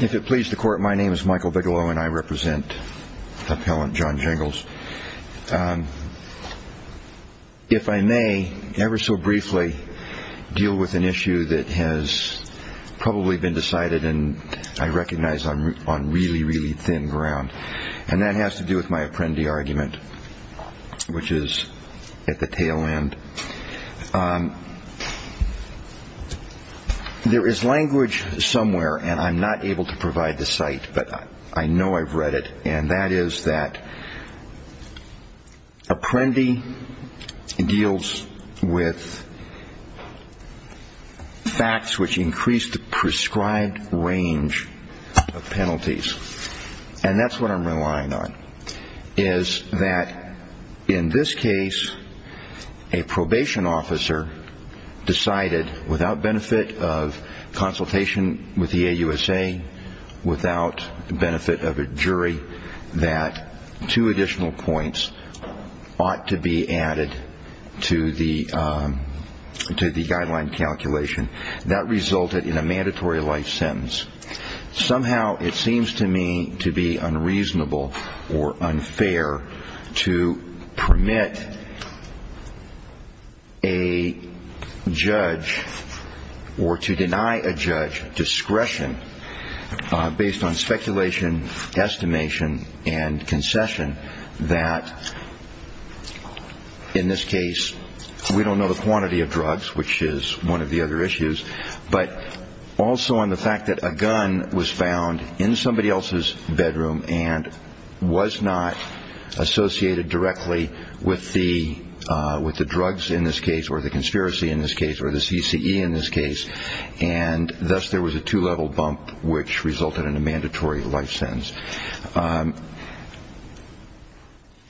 If it please the court, my name is Michael Bigelow and I represent appellant John Jingles. If I may, ever so briefly, deal with an issue that has probably been decided and I recognize on really, really thin ground. And that has to do with my Apprendi argument, which is at the tail end. There is language somewhere, and I'm not able to provide the site, but I know I've read it. And that is that Apprendi deals with facts which increase the prescribed range of penalties. And that's what I'm relying on, is that in this case, a probation officer decided without benefit of consultation with the AUSA, without benefit of a jury, that two additional points ought to be added to the guideline calculation. That resulted in a mandatory life sentence. Somehow it seems to me to be unreasonable or unfair to permit a judge or to deny a judge discretion based on speculation, estimation and concession that in this case we don't know the quantity of drugs, which is one of the other issues. But also on the fact that a gun was found in somebody else's bedroom and was not associated directly with the drugs in this case or the conspiracy in this case or the CCE in this case. And thus there was a two-level bump which resulted in a mandatory life sentence.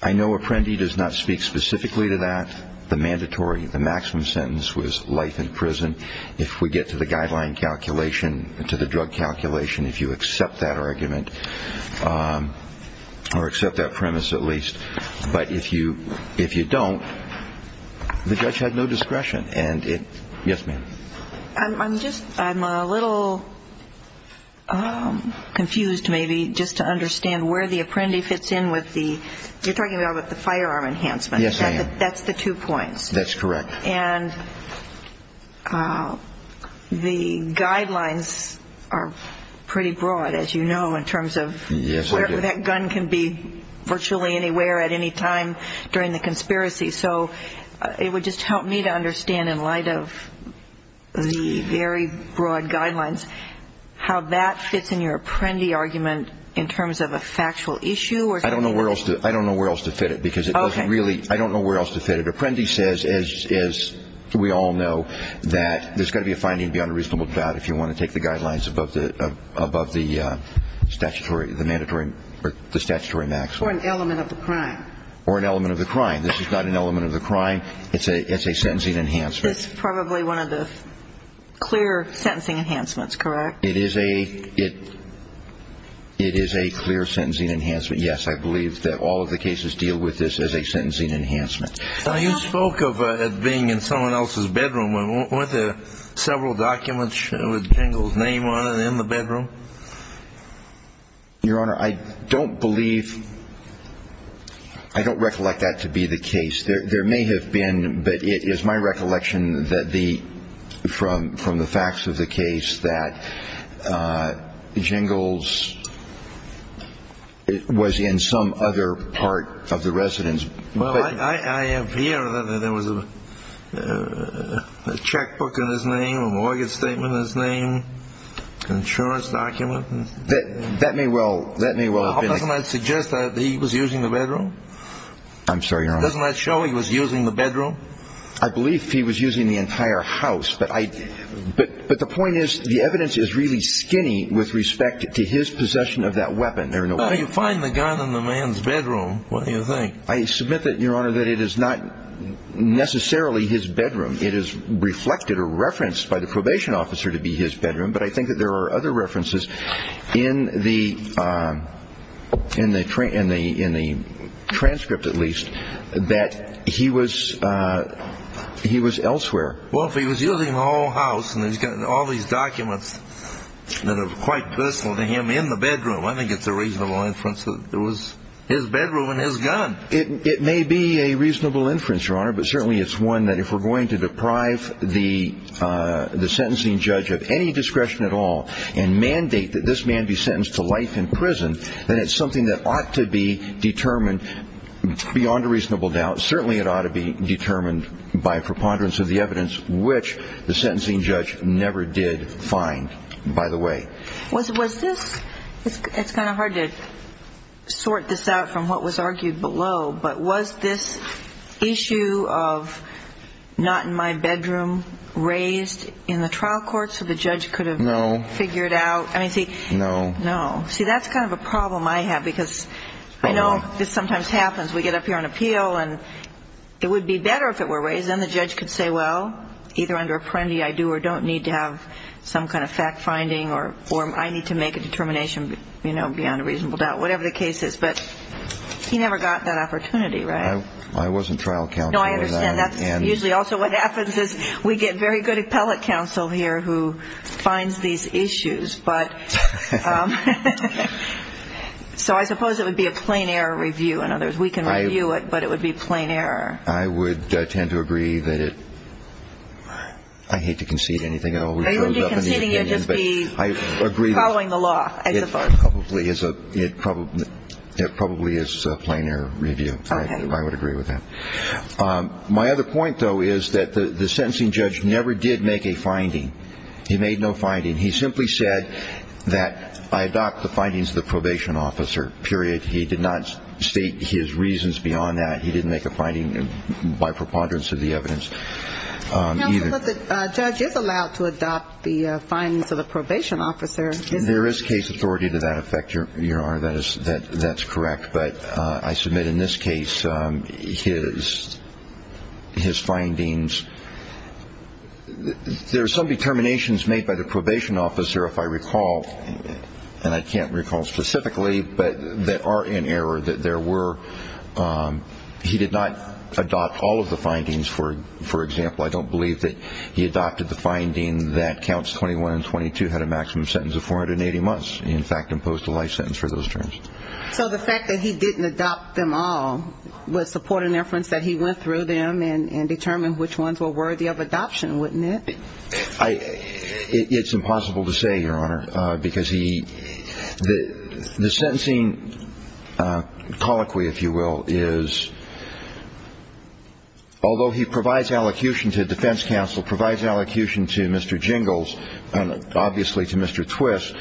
I know Apprendi does not speak specifically to that, the mandatory, the maximum sentence was life in prison. If we get to the guideline calculation, to the drug calculation, if you accept that argument or accept that premise at least. But if you don't, the judge had no discretion. Yes, ma'am. I'm a little confused maybe just to understand where the Apprendi fits in with the, you're talking about the firearm enhancement. Yes, I am. That's the two points. That's correct. And the guidelines are pretty broad, as you know, in terms of that gun can be virtually anywhere at any time during the conspiracy. So it would just help me to understand in light of the very broad guidelines how that fits in your Apprendi argument in terms of a factual issue. I don't know where else to fit it because it doesn't really, I don't know where else to fit it. But Apprendi says, as we all know, that there's got to be a finding beyond a reasonable doubt if you want to take the guidelines above the statutory maximum. Or an element of the crime. Or an element of the crime. This is not an element of the crime. It's a sentencing enhancement. This is probably one of the clear sentencing enhancements, correct? It is a clear sentencing enhancement. Yes, I believe that all of the cases deal with this as a sentencing enhancement. Now, you spoke of it being in someone else's bedroom. Weren't there several documents with Jingle's name on it in the bedroom? Your Honor, I don't believe, I don't recollect that to be the case. There may have been, but it is my recollection from the facts of the case that Jingle's was in some other part of the residence. Well, I have here that there was a checkbook in his name, a mortgage statement in his name, insurance documents. That may well have been it. Doesn't that suggest that he was using the bedroom? I'm sorry, Your Honor. Doesn't that show he was using the bedroom? I believe he was using the entire house. But the point is, the evidence is really skinny with respect to his possession of that weapon. You find the gun in the man's bedroom, what do you think? I submit that, Your Honor, that it is not necessarily his bedroom. It is reflected or referenced by the probation officer to be his bedroom. But I think that there are other references in the transcript, at least, that he was elsewhere. Well, if he was using the whole house and he's got all these documents that are quite personal to him in the bedroom, I think it's a reasonable inference that it was his bedroom and his gun. It may be a reasonable inference, Your Honor, but certainly it's one that if we're going to deprive the sentencing judge of any discretion at all and mandate that this man be sentenced to life in prison, then it's something that ought to be determined beyond a reasonable doubt. Certainly it ought to be determined by preponderance of the evidence, which the sentencing judge never did find, by the way. It's kind of hard to sort this out from what was argued below, but was this issue of not in my bedroom raised in the trial court so the judge could have figured out? No. No. No. See, that's kind of a problem I have because I know this sometimes happens. We get up here on appeal and it would be better if it were raised. Because then the judge could say, well, either under apprendi I do or don't need to have some kind of fact finding or I need to make a determination beyond a reasonable doubt, whatever the case is. But he never got that opportunity, right? I wasn't trial counsel. No, I understand. That's usually also what happens is we get very good appellate counsel here who finds these issues. So I suppose it would be a plain error review. In other words, we can review it, but it would be plain error. I would tend to agree that it – I hate to concede anything. Are you going to be conceding or just be following the law, I suppose? It probably is a plain error review. Okay. I would agree with that. My other point, though, is that the sentencing judge never did make a finding. He made no finding. He simply said that I adopt the findings of the probation officer, period. He did not state his reasons beyond that. He didn't make a finding by preponderance of the evidence. Counsel, but the judge is allowed to adopt the findings of the probation officer. There is case authority to that effect, Your Honor. That's correct. But I submit in this case his findings. There are some determinations made by the probation officer, if I recall, and I can't recall specifically, but that are in error, that there were – he did not adopt all of the findings. For example, I don't believe that he adopted the finding that counts 21 and 22 had a maximum sentence of 480 months. In fact, imposed a life sentence for those terms. So the fact that he didn't adopt them all would support an inference that he went through them and determined which ones were worthy of adoption, wouldn't it? It's impossible to say, Your Honor, because he – the sentencing colloquy, if you will, is although he provides allocution to defense counsel, provides allocution to Mr. Jingles, and obviously to Mr. Twist,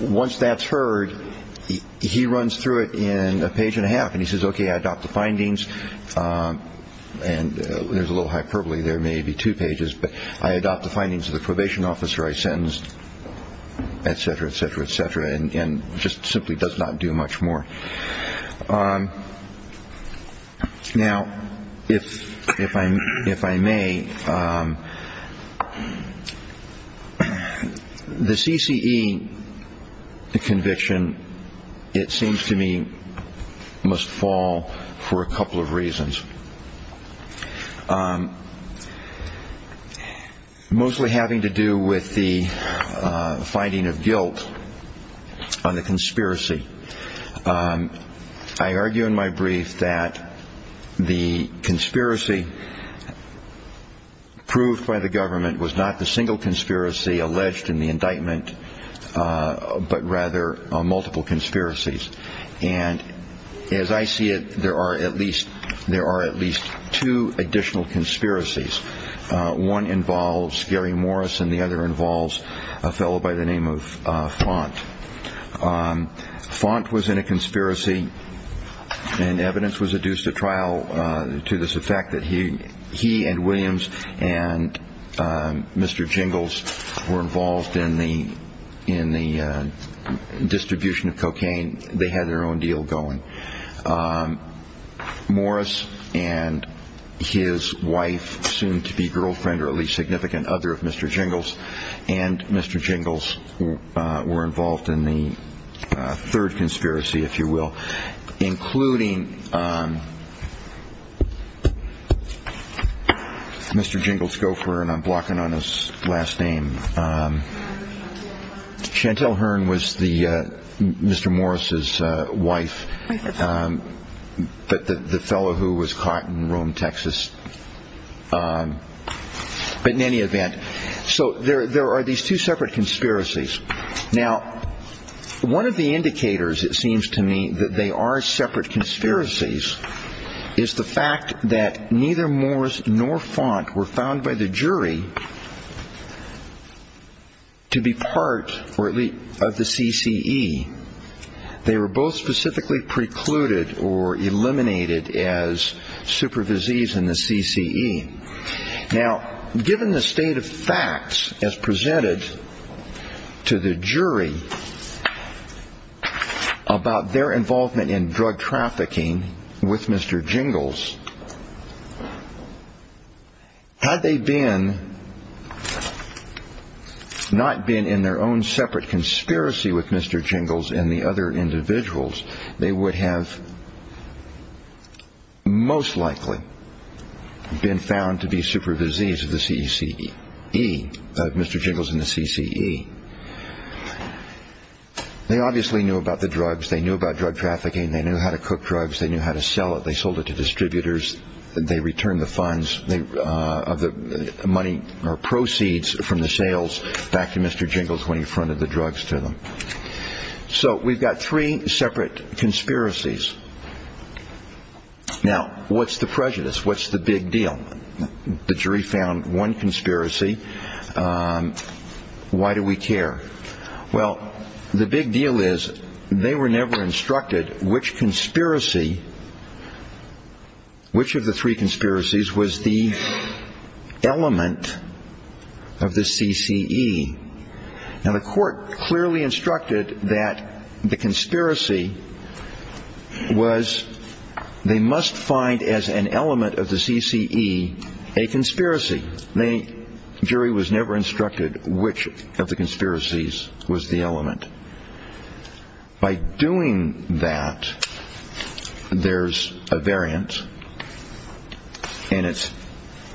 once that's heard, he runs through it in a page and a half, and he says, okay, I adopt the findings. And there's a little hyperbole. There may be two pages, but I adopt the findings of the probation officer I sentenced, et cetera, et cetera, et cetera, and just simply does not do much more. Now, if I may, the CCE conviction, it seems to me, must fall for a couple of reasons, mostly having to do with the finding of guilt on the conspiracy. I argue in my brief that the conspiracy proved by the government was not the single conspiracy alleged in the indictment, but rather multiple conspiracies. And as I see it, there are at least two additional conspiracies. One involves Gary Morris, and the other involves a fellow by the name of Font. Font was in a conspiracy, and evidence was adduced at trial to the fact that he and Williams and Mr. Jingles were involved in the distribution of cocaine. They had their own deal going. Morris and his wife, soon-to-be girlfriend or at least significant other of Mr. Jingles, and Mr. Jingles were involved in the third conspiracy, if you will, including Mr. Jingles Gofer, and I'm blocking on his last name. Chantelle Hearn was Mr. Morris's wife, the fellow who was caught in Rome, Texas. But in any event, so there are these two separate conspiracies. Now, one of the indicators, it seems to me, that they are separate conspiracies is the fact that neither Morris nor Font were found by the jury to be part of the CCE. They were both specifically precluded or eliminated as supervisees in the CCE. Now, given the state of facts as presented to the jury about their involvement in drug trafficking with Mr. Jingles, had they not been in their own separate conspiracy with Mr. Jingles and the other individuals, they would have most likely been found to be supervisees of Mr. Jingles in the CCE. They obviously knew about the drugs. They knew about drug trafficking. They knew how to cook drugs. They knew how to sell it. They sold it to distributors. They returned the funds of the money or proceeds from the sales back to Mr. Jingles when he fronted the drugs to them. So we've got three separate conspiracies. Now, what's the prejudice? What's the big deal? The jury found one conspiracy. Why do we care? Well, the big deal is they were never instructed which conspiracy, which of the three conspiracies was the element of the CCE. Now, the court clearly instructed that the conspiracy was they must find as an element of the CCE a conspiracy. The jury was never instructed which of the conspiracies was the element. By doing that, there's a variant, and it's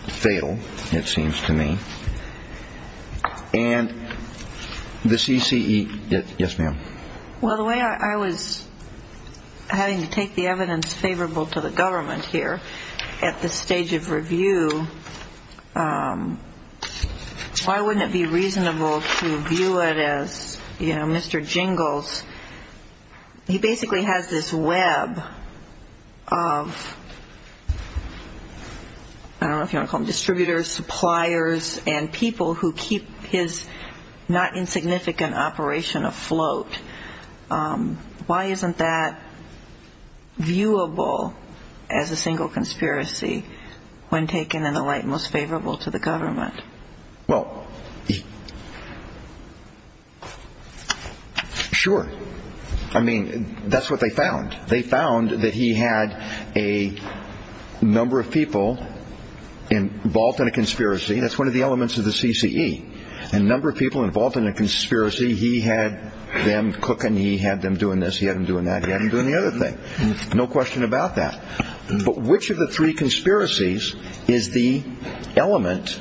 fatal, it seems to me. And the CCE, yes, ma'am? Well, the way I was having to take the evidence favorable to the government here at this stage of review, why wouldn't it be reasonable to view it as, you know, Mr. Jingles, he basically has this web of, I don't know if you want to call them distributors, suppliers, and people who keep his not insignificant operation afloat? Why isn't that viewable as a single conspiracy when taken in the light most favorable to the government? Well, sure. I mean, that's what they found. They found that he had a number of people involved in a conspiracy. That's one of the elements of the CCE. A number of people involved in a conspiracy. He had them cooking. He had them doing this. He had them doing that. He had them doing the other thing. No question about that. But which of the three conspiracies is the element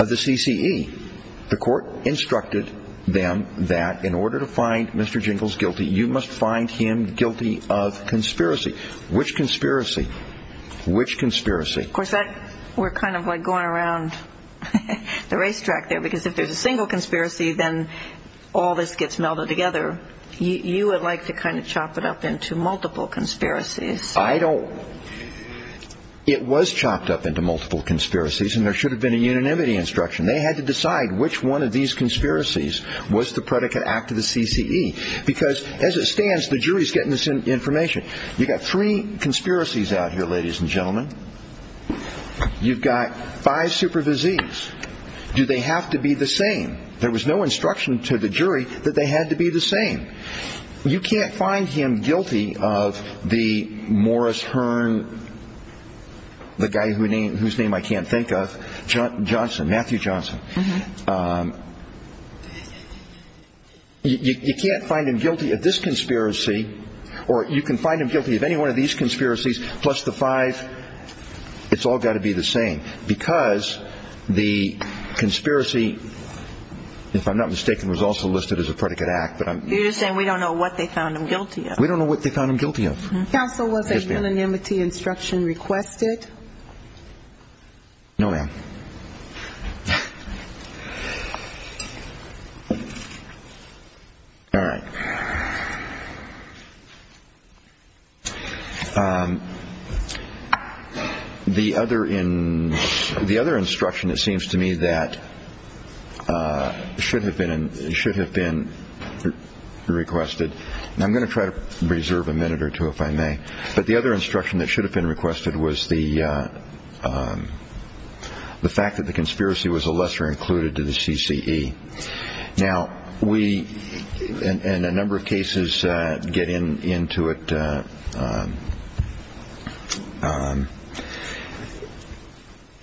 of the CCE? The court instructed them that in order to find Mr. Jingles guilty, you must find him guilty of conspiracy. Which conspiracy? Which conspiracy? Of course, we're kind of like going around the racetrack there, because if there's a single conspiracy, then all this gets melded together. You would like to kind of chop it up into multiple conspiracies. I don't. It was chopped up into multiple conspiracies, and there should have been a unanimity instruction. They had to decide which one of these conspiracies was the predicate act of the CCE, because as it stands, the jury's getting this information. You've got three conspiracies out here, ladies and gentlemen. You've got five supervisees. Do they have to be the same? There was no instruction to the jury that they had to be the same. You can't find him guilty of the Morris Hearn, the guy whose name I can't think of, Johnson, Matthew Johnson. You can't find him guilty of this conspiracy, or you can find him guilty of any one of these conspiracies plus the five. It's all got to be the same, because the conspiracy, if I'm not mistaken, was also listed as a predicate act. You're just saying we don't know what they found him guilty of. We don't know what they found him guilty of. Counsel, was a unanimity instruction requested? No, ma'am. All right. The other instruction, it seems to me, that should have been requested, and I'm going to try to reserve a minute or two, if I may, but the other instruction that should have been requested was the fact that the conspiracy was a lesser included to the CCE. Now, we, in a number of cases, get into it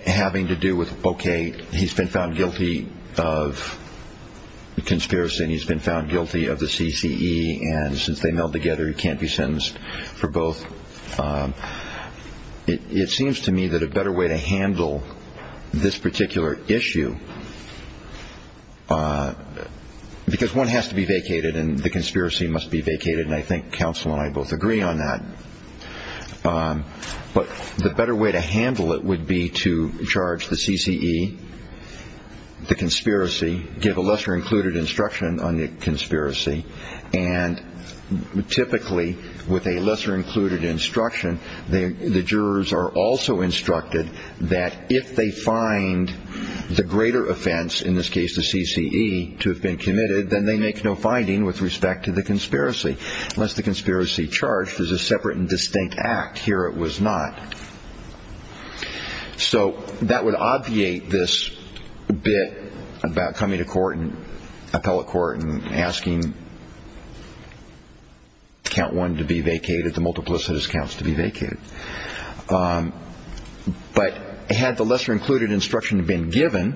having to do with, okay, he's been found guilty of conspiracy and he's been found guilty of the CCE, and since they meld together, he can't be sentenced for both. It seems to me that a better way to handle this particular issue, because one has to be vacated and the conspiracy must be vacated, and I think counsel and I both agree on that, but the better way to handle it would be to charge the CCE the conspiracy, give a lesser included instruction on the conspiracy, and typically with a lesser included instruction, the jurors are also instructed that if they find the greater offense, in this case the CCE, to have been committed, then they make no finding with respect to the conspiracy. Unless the conspiracy charged, there's a separate and distinct act. Here it was not. So that would obviate this bit about coming to court and appellate court and asking count one to be vacated, the multiplicitous counts to be vacated. But had the lesser included instruction been given,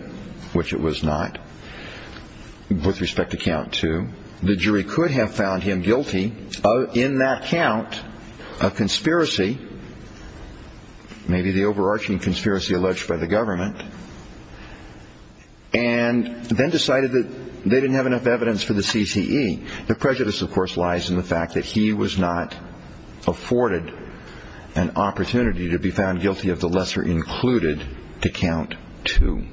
which it was not, with respect to count two, the jury could have found him guilty in that count of conspiracy maybe the overarching conspiracy alleged by the government, and then decided that they didn't have enough evidence for the CCE. The prejudice, of course, lies in the fact that he was not afforded an opportunity to be found guilty of the lesser included to count two.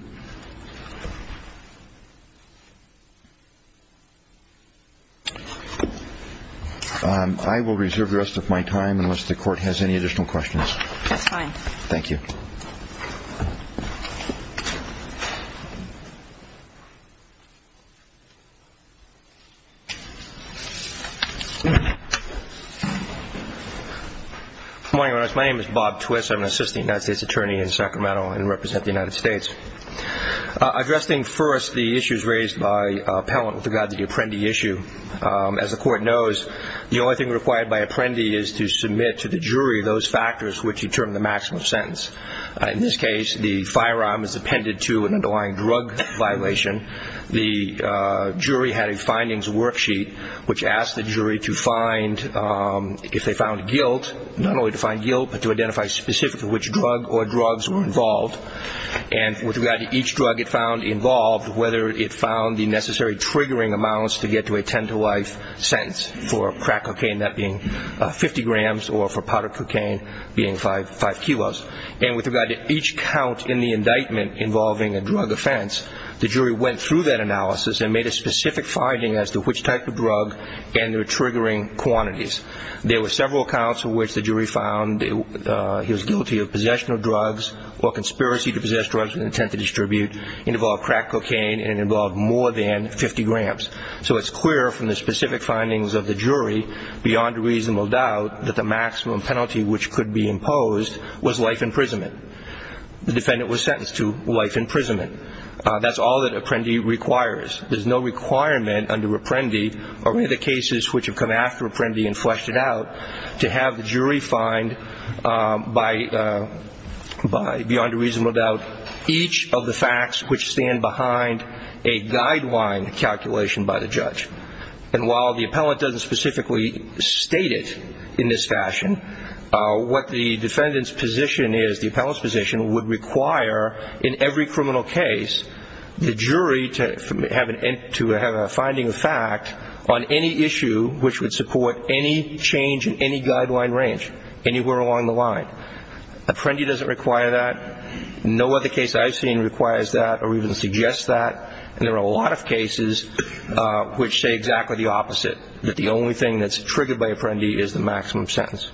I will reserve the rest of my time unless the Court has any additional questions. That's fine. Thank you. Good morning, Your Honor. My name is Bob Twist. I'm an assistant United States attorney in Sacramento and represent the United States. Addressing first the issues raised by appellant with regard to the Apprendi issue, as the Court knows, the only thing required by Apprendi is to submit to the jury those factors which determine the maximum sentence. In this case, the firearm is appended to an underlying drug violation. The jury had a findings worksheet which asked the jury to find, if they found guilt, not only to find guilt but to identify specifically which drug or drugs were involved. And with regard to each drug it found involved, whether it found the necessary triggering amounts to get to a ten-to-life sentence for crack cocaine, that being 50 grams, or for powder cocaine being five kilos. And with regard to each count in the indictment involving a drug offense, the jury went through that analysis and made a specific finding as to which type of drug and their triggering quantities. There were several counts in which the jury found he was guilty of possession of drugs or conspiracy to possess drugs with intent to distribute, it involved crack cocaine, and it involved more than 50 grams. So it's clear from the specific findings of the jury, beyond reasonable doubt, that the maximum penalty which could be imposed was life imprisonment. The defendant was sentenced to life imprisonment. That's all that Apprendi requires. There's no requirement under Apprendi or any of the cases which have come after Apprendi to have the jury find, beyond reasonable doubt, each of the facts which stand behind a guideline calculation by the judge. And while the appellant doesn't specifically state it in this fashion, what the defendant's position is, the appellant's position, would require in every criminal case the jury to have a finding of fact on any issue which would support any change in any guideline range anywhere along the line. Apprendi doesn't require that. No other case I've seen requires that or even suggests that. And there are a lot of cases which say exactly the opposite, that the only thing that's triggered by Apprendi is the maximum sentence.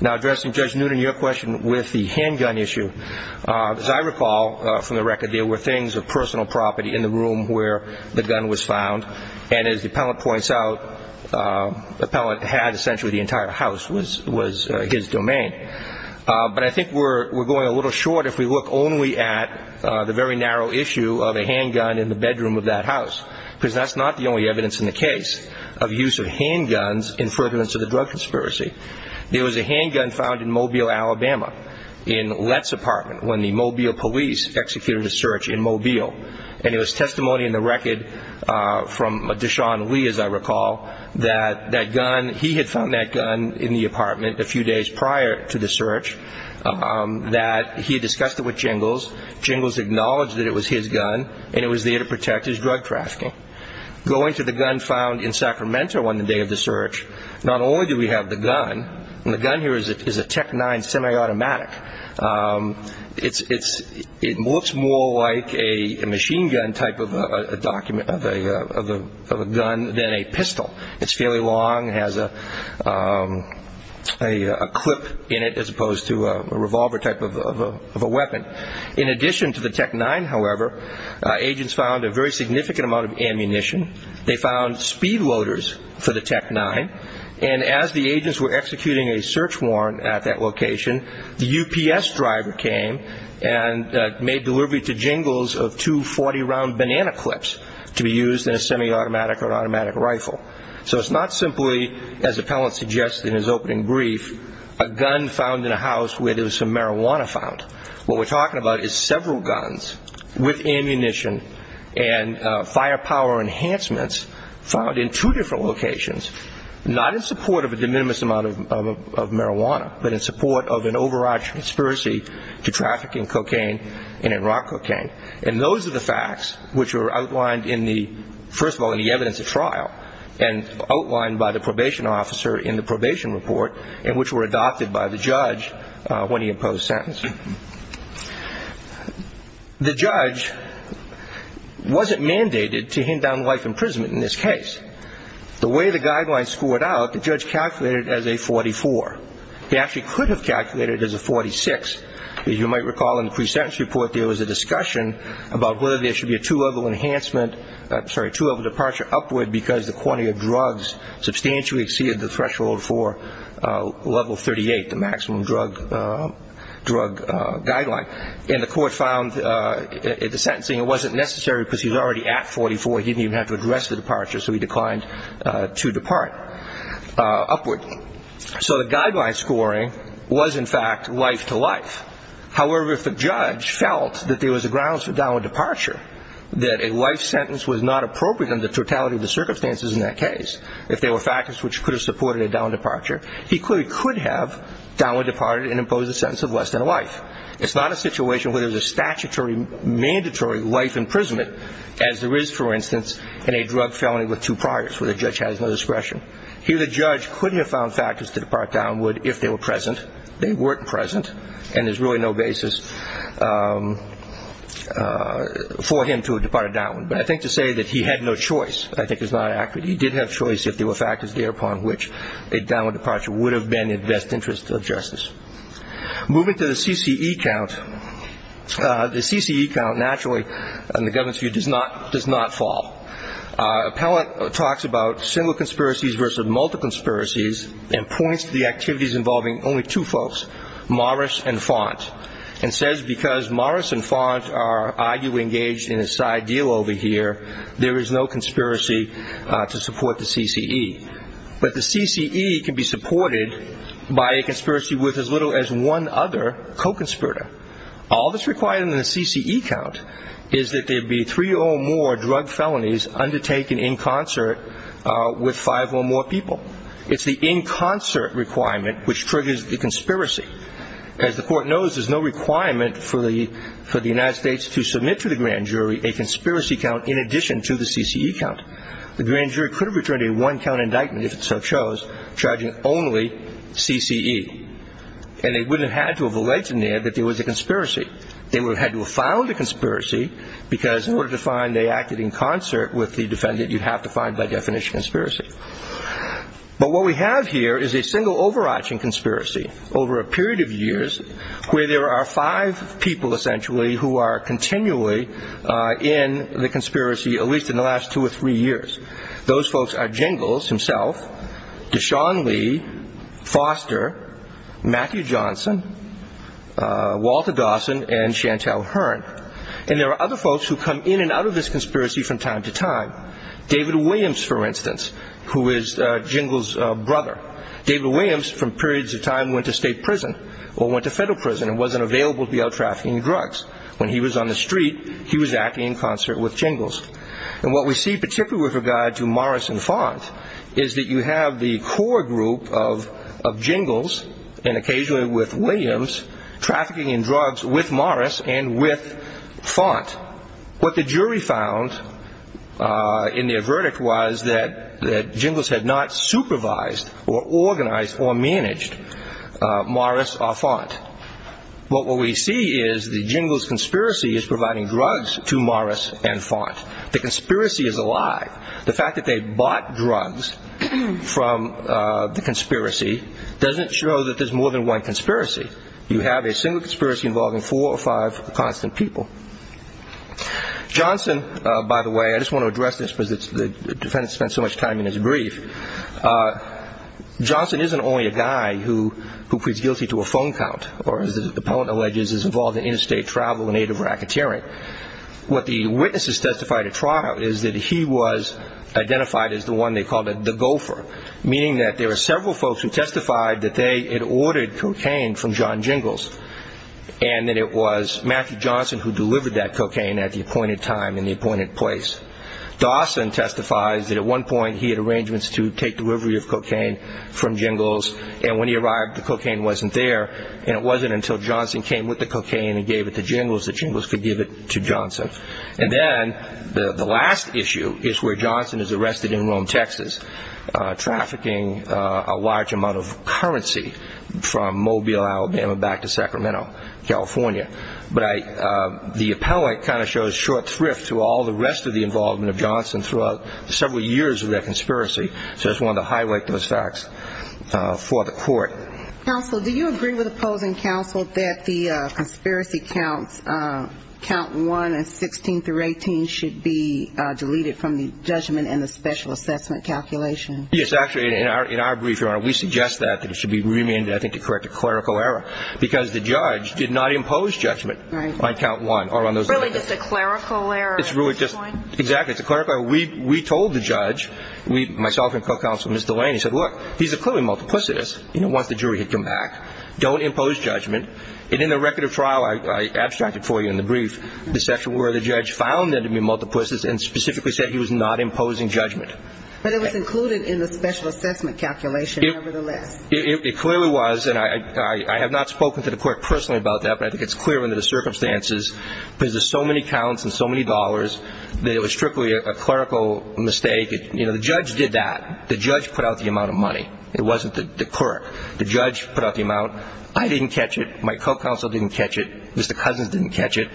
Now, addressing Judge Noonan, your question with the handgun issue, as I recall from the record, there were things of personal property in the room where the gun was found. And as the appellant points out, the appellant had essentially the entire house was his domain. But I think we're going a little short if we look only at the very narrow issue of a handgun in the bedroom of that house, because that's not the only evidence in the case of use of handguns in furtherance of the drug conspiracy. There was a handgun found in Mobile, Alabama, in Lett's apartment, and it was testimony in the record from Deshaun Lee, as I recall, that that gun, he had found that gun in the apartment a few days prior to the search, that he had discussed it with Jingles. Jingles acknowledged that it was his gun and it was there to protect his drug trafficking. Going to the gun found in Sacramento on the day of the search, not only do we have the gun, and the gun here is a Tec-9 semi-automatic, it looks more like a machine gun type of a gun than a pistol. It's fairly long, has a clip in it as opposed to a revolver type of a weapon. In addition to the Tec-9, however, agents found a very significant amount of ammunition. They found speed loaders for the Tec-9, and as the agents were executing a search warrant at that location, the UPS driver came and made delivery to Jingles of two 40-round banana clips to be used in a semi-automatic or automatic rifle. So it's not simply, as Appellant suggests in his opening brief, a gun found in a house where there was some marijuana found. What we're talking about is several guns with ammunition and firepower enhancements found in two different locations, not in support of a de minimis amount of marijuana, but in support of an overarched conspiracy to trafficking cocaine and in rock cocaine. And those are the facts which were outlined, first of all, in the evidence at trial and outlined by the probation officer in the probation report and which were adopted by the judge when he imposed sentencing. The judge wasn't mandated to hand down life imprisonment in this case. The way the guidelines scored out, the judge calculated it as a 44. He actually could have calculated it as a 46. As you might recall in the pre-sentence report, there was a discussion about whether there should be a two-level departure upward because the quantity of drugs substantially exceeded the threshold for level 38, the maximum drug guideline. And the court found the sentencing wasn't necessary because he was already at 44. He didn't even have to address the departure, so he declined to depart upward. So the guideline scoring was, in fact, life-to-life. However, if the judge felt that there was a grounds for downward departure, that a life sentence was not appropriate under the totality of the circumstances in that case, if there were factors which could have supported a downward departure, he clearly could have downward departed and imposed a sentence of less than life. It's not a situation where there's a statutory mandatory life imprisonment, as there is, for instance, in a drug felony with two priors where the judge has no discretion. He or the judge couldn't have found factors to depart downward if they were present. They weren't present, and there's really no basis for him to have departed downward. But I think to say that he had no choice I think is not accurate. He did have choice if there were factors thereupon which a downward departure would have been in the best interest of justice. Moving to the CCE count, the CCE count naturally, in the government's view, does not fall. Appellant talks about single conspiracies versus multi-conspiracies and points to the activities involving only two folks, Morris and Font, and says because Morris and Font are arguably engaged in a side deal over here, there is no conspiracy to support the CCE. But the CCE can be supported by a conspiracy with as little as one other co-conspirator. All that's required in the CCE count is that there be three or more drug felonies undertaken in concert with five or more people. It's the in concert requirement which triggers the conspiracy. As the Court knows, there's no requirement for the United States to submit to the grand jury a conspiracy count in addition to the CCE count. The grand jury could have returned a one-count indictment if it so chose, charging only CCE. And they would have had to have alleged in there that there was a conspiracy. They would have had to have found a conspiracy because in order to find they acted in concert with the defendant, you'd have to find, by definition, a conspiracy. But what we have here is a single overarching conspiracy over a period of years where there are five people, essentially, who are continually in the conspiracy, at least in the last two or three years. Those folks are Jingles himself, Deshaun Lee, Foster, Matthew Johnson, Walter Dawson, and Chantal Hearn. And there are other folks who come in and out of this conspiracy from time to time. David Williams, for instance, who is Jingles' brother. David Williams, from periods of time, went to state prison or went to federal prison and wasn't available to be out trafficking drugs. When he was on the street, he was acting in concert with Jingles. And what we see, particularly with regard to Morris and Font, is that you have the core group of Jingles, and occasionally with Williams, trafficking in drugs with Morris and with Font. What the jury found in their verdict was that Jingles had not supervised or organized or managed Morris or Font. What we see is that Jingles' conspiracy is providing drugs to Morris and Font. The conspiracy is alive. The fact that they bought drugs from the conspiracy doesn't show that there's more than one conspiracy. You have a single conspiracy involving four or five constant people. Johnson, by the way, I just want to address this because the defendant spent so much time in his brief. Johnson isn't only a guy who pleads guilty to a phone count or, as the appellant alleges, is involved in interstate travel in aid of racketeering. What the witnesses testified at trial is that he was identified as the one they called the gopher, meaning that there were several folks who testified that they had ordered cocaine from John Jingles and that it was Matthew Johnson who delivered that cocaine at the appointed time and the appointed place. Dawson testifies that at one point he had arrangements to take delivery of cocaine from Jingles and when he arrived the cocaine wasn't there and it wasn't until Johnson came with the cocaine and gave it to Jingles that Jingles could give it to Johnson. And then the last issue is where Johnson is arrested in Rome, Texas, trafficking a large amount of currency from Mobile, Alabama, back to Sacramento, California. But the appellate kind of shows short thrift to all the rest of the involvement of Johnson throughout several years of their conspiracy, so I just wanted to highlight those facts for the court. Counsel, do you agree with opposing counsel that the conspiracy counts, count one and 16 through 18, should be deleted from the judgment and the special assessment calculation? Yes, actually, in our brief, Your Honor, we suggest that it should be remanded, I think, to correct a clerical error because the judge did not impose judgment on count one. Really just a clerical error? Exactly, it's a clerical error. We told the judge, myself and co-counsel, Mr. Lane, he said, look, he's a clearly multiplicitous. Once the jury had come back, don't impose judgment. And in the record of trial, I abstracted for you in the brief, the section where the judge found there to be multiplicities and specifically said he was not imposing judgment. But it was included in the special assessment calculation, nevertheless. It clearly was, and I have not spoken to the court personally about that, but I think it's clear under the circumstances because there's so many counts and so many dollars that it was strictly a clerical mistake. You know, the judge did that. The judge put out the amount of money. It wasn't the clerk. The judge put out the amount. I didn't catch it. My co-counsel didn't catch it. Mr. Cousins didn't catch it.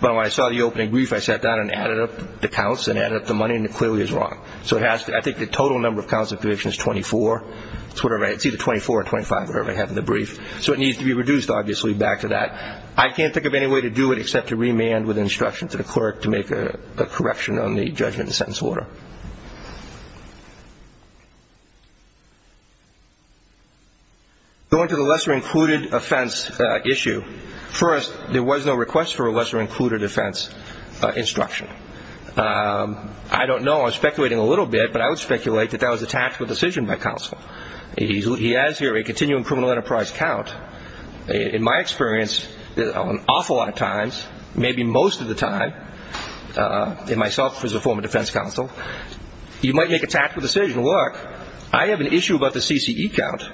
But when I saw the opening brief, I sat down and added up the counts and added up the money, and it clearly is wrong. So I think the total number of counts of conviction is 24. It's either 24 or 25, whatever I have in the brief. So it needs to be reduced, obviously, back to that. I can't think of any way to do it except to remand with instruction to the clerk to make a correction on the judgment and sentence order. Going to the lesser-included offense issue, first, there was no request for a lesser-included offense instruction. I don't know. I'm speculating a little bit, but I would speculate that that was a tactical decision by counsel. He has here a continuum criminal enterprise count. In my experience, an awful lot of times, maybe most of the time, and myself as a former defense counsel, you might make a tactical decision. Look, I have an issue about the CCE count.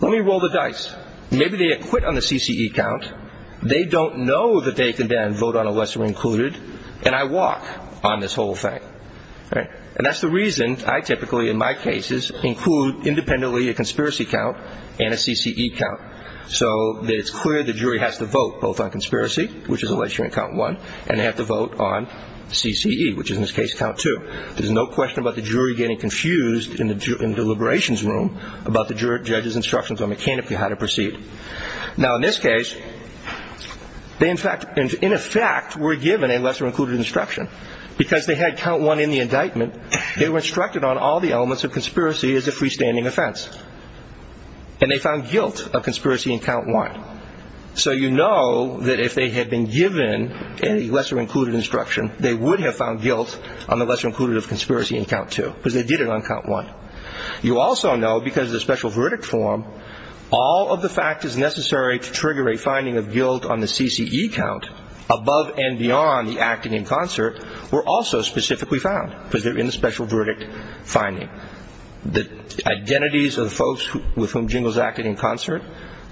Let me roll the dice. Maybe they had quit on the CCE count. They don't know that they can then vote on a lesser-included. And I walk on this whole thing. And that's the reason I typically, in my cases, include independently a conspiracy count and a CCE count, so that it's clear the jury has to vote both on conspiracy, which is a lesser-included count one, and they have to vote on CCE, which is, in this case, count two. There's no question about the jury getting confused in the deliberations room about the judge's instructions on mechanically how to proceed. Now, in this case, they, in effect, were given a lesser-included instruction. Because they had count one in the indictment, they were instructed on all the elements of conspiracy as a freestanding offense. And they found guilt of conspiracy in count one. So you know that if they had been given a lesser-included instruction, they would have found guilt on the lesser-included of conspiracy in count two, because they did it on count one. You also know, because of the special verdict form, all of the factors necessary to trigger a finding of guilt on the CCE count, above and beyond the acting in concert, were also specifically found, because they're in the special verdict finding. The identities of the folks with whom Jingles acted in concert,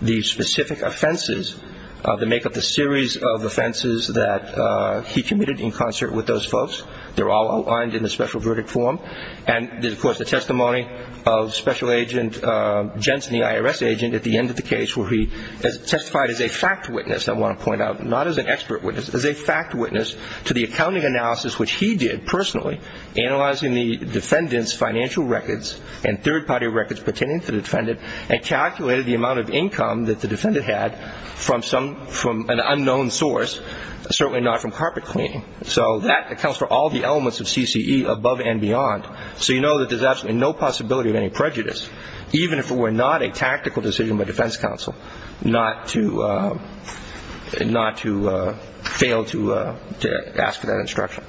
the specific offenses that make up the series of offenses that he committed in concert with those folks, they're all outlined in the special verdict form. And there's, of course, the testimony of Special Agent Jensen, the IRS agent, at the end of the case where he testified as a fact witness, I want to point out, not as an expert witness, as a fact witness to the accounting analysis, which he did personally, analyzing the defendant's financial records and third-party records pertaining to the defendant, and calculated the amount of income that the defendant had from an unknown source, certainly not from carpet cleaning. So that accounts for all the elements of CCE, above and beyond. So you know that there's absolutely no possibility of any prejudice, even if it were not a tactical decision by defense counsel not to fail to ask for that instruction.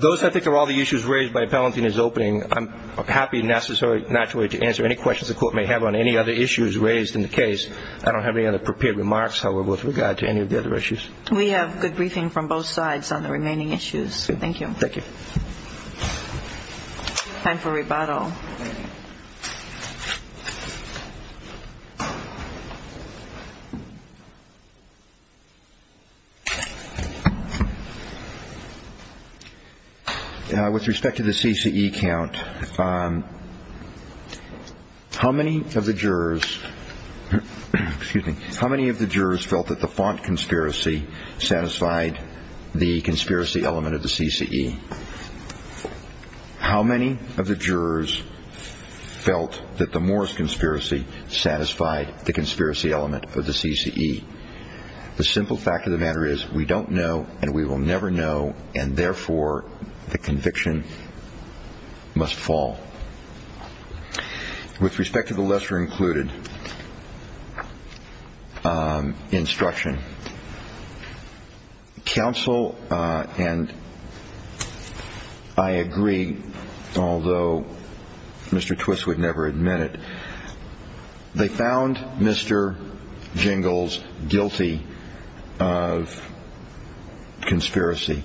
Those, I think, are all the issues raised by Palantino's opening. I'm happy and naturally to answer any questions the Court may have on any other issues raised in the case. I don't have any other prepared remarks, however, with regard to any of the other issues. We have good briefing from both sides on the remaining issues. Thank you. Thank you. Time for rebuttal. With respect to the CCE count, how many of the jurors felt that the font conspiracy satisfied the conspiracy element of the CCE? How many of the jurors felt that the Morris conspiracy satisfied the conspiracy element of the CCE? The simple fact of the matter is we don't know and we will never know, and therefore the conviction must fall. With respect to the lesser included instruction, counsel and I agree, although Mr. Twiss would never admit it, they found Mr. Jingles guilty of conspiracy.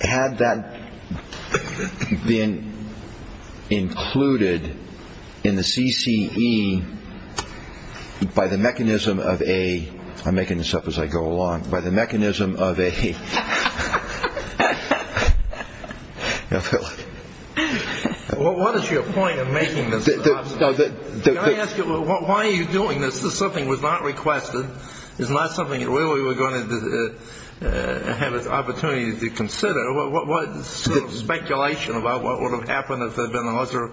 Had that been included in the CCE by the mechanism of a – I'm making this up as I go along – by the mechanism of a… Well, what is your point in making this up? Can I ask you, why are you doing this? This is something that was not requested. It's not something that really we're going to have an opportunity to consider. What sort of speculation about what would have happened if there had been a lesser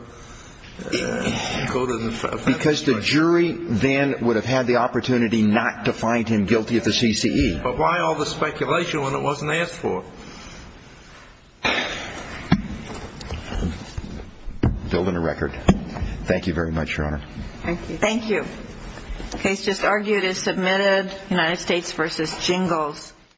included instruction? Because the jury then would have had the opportunity not to find him guilty of the CCE. But why all the speculation when it wasn't asked for? Building a record. Thank you very much, Your Honor. Thank you. Thank you. The case just argued is submitted, United States v. Jingles.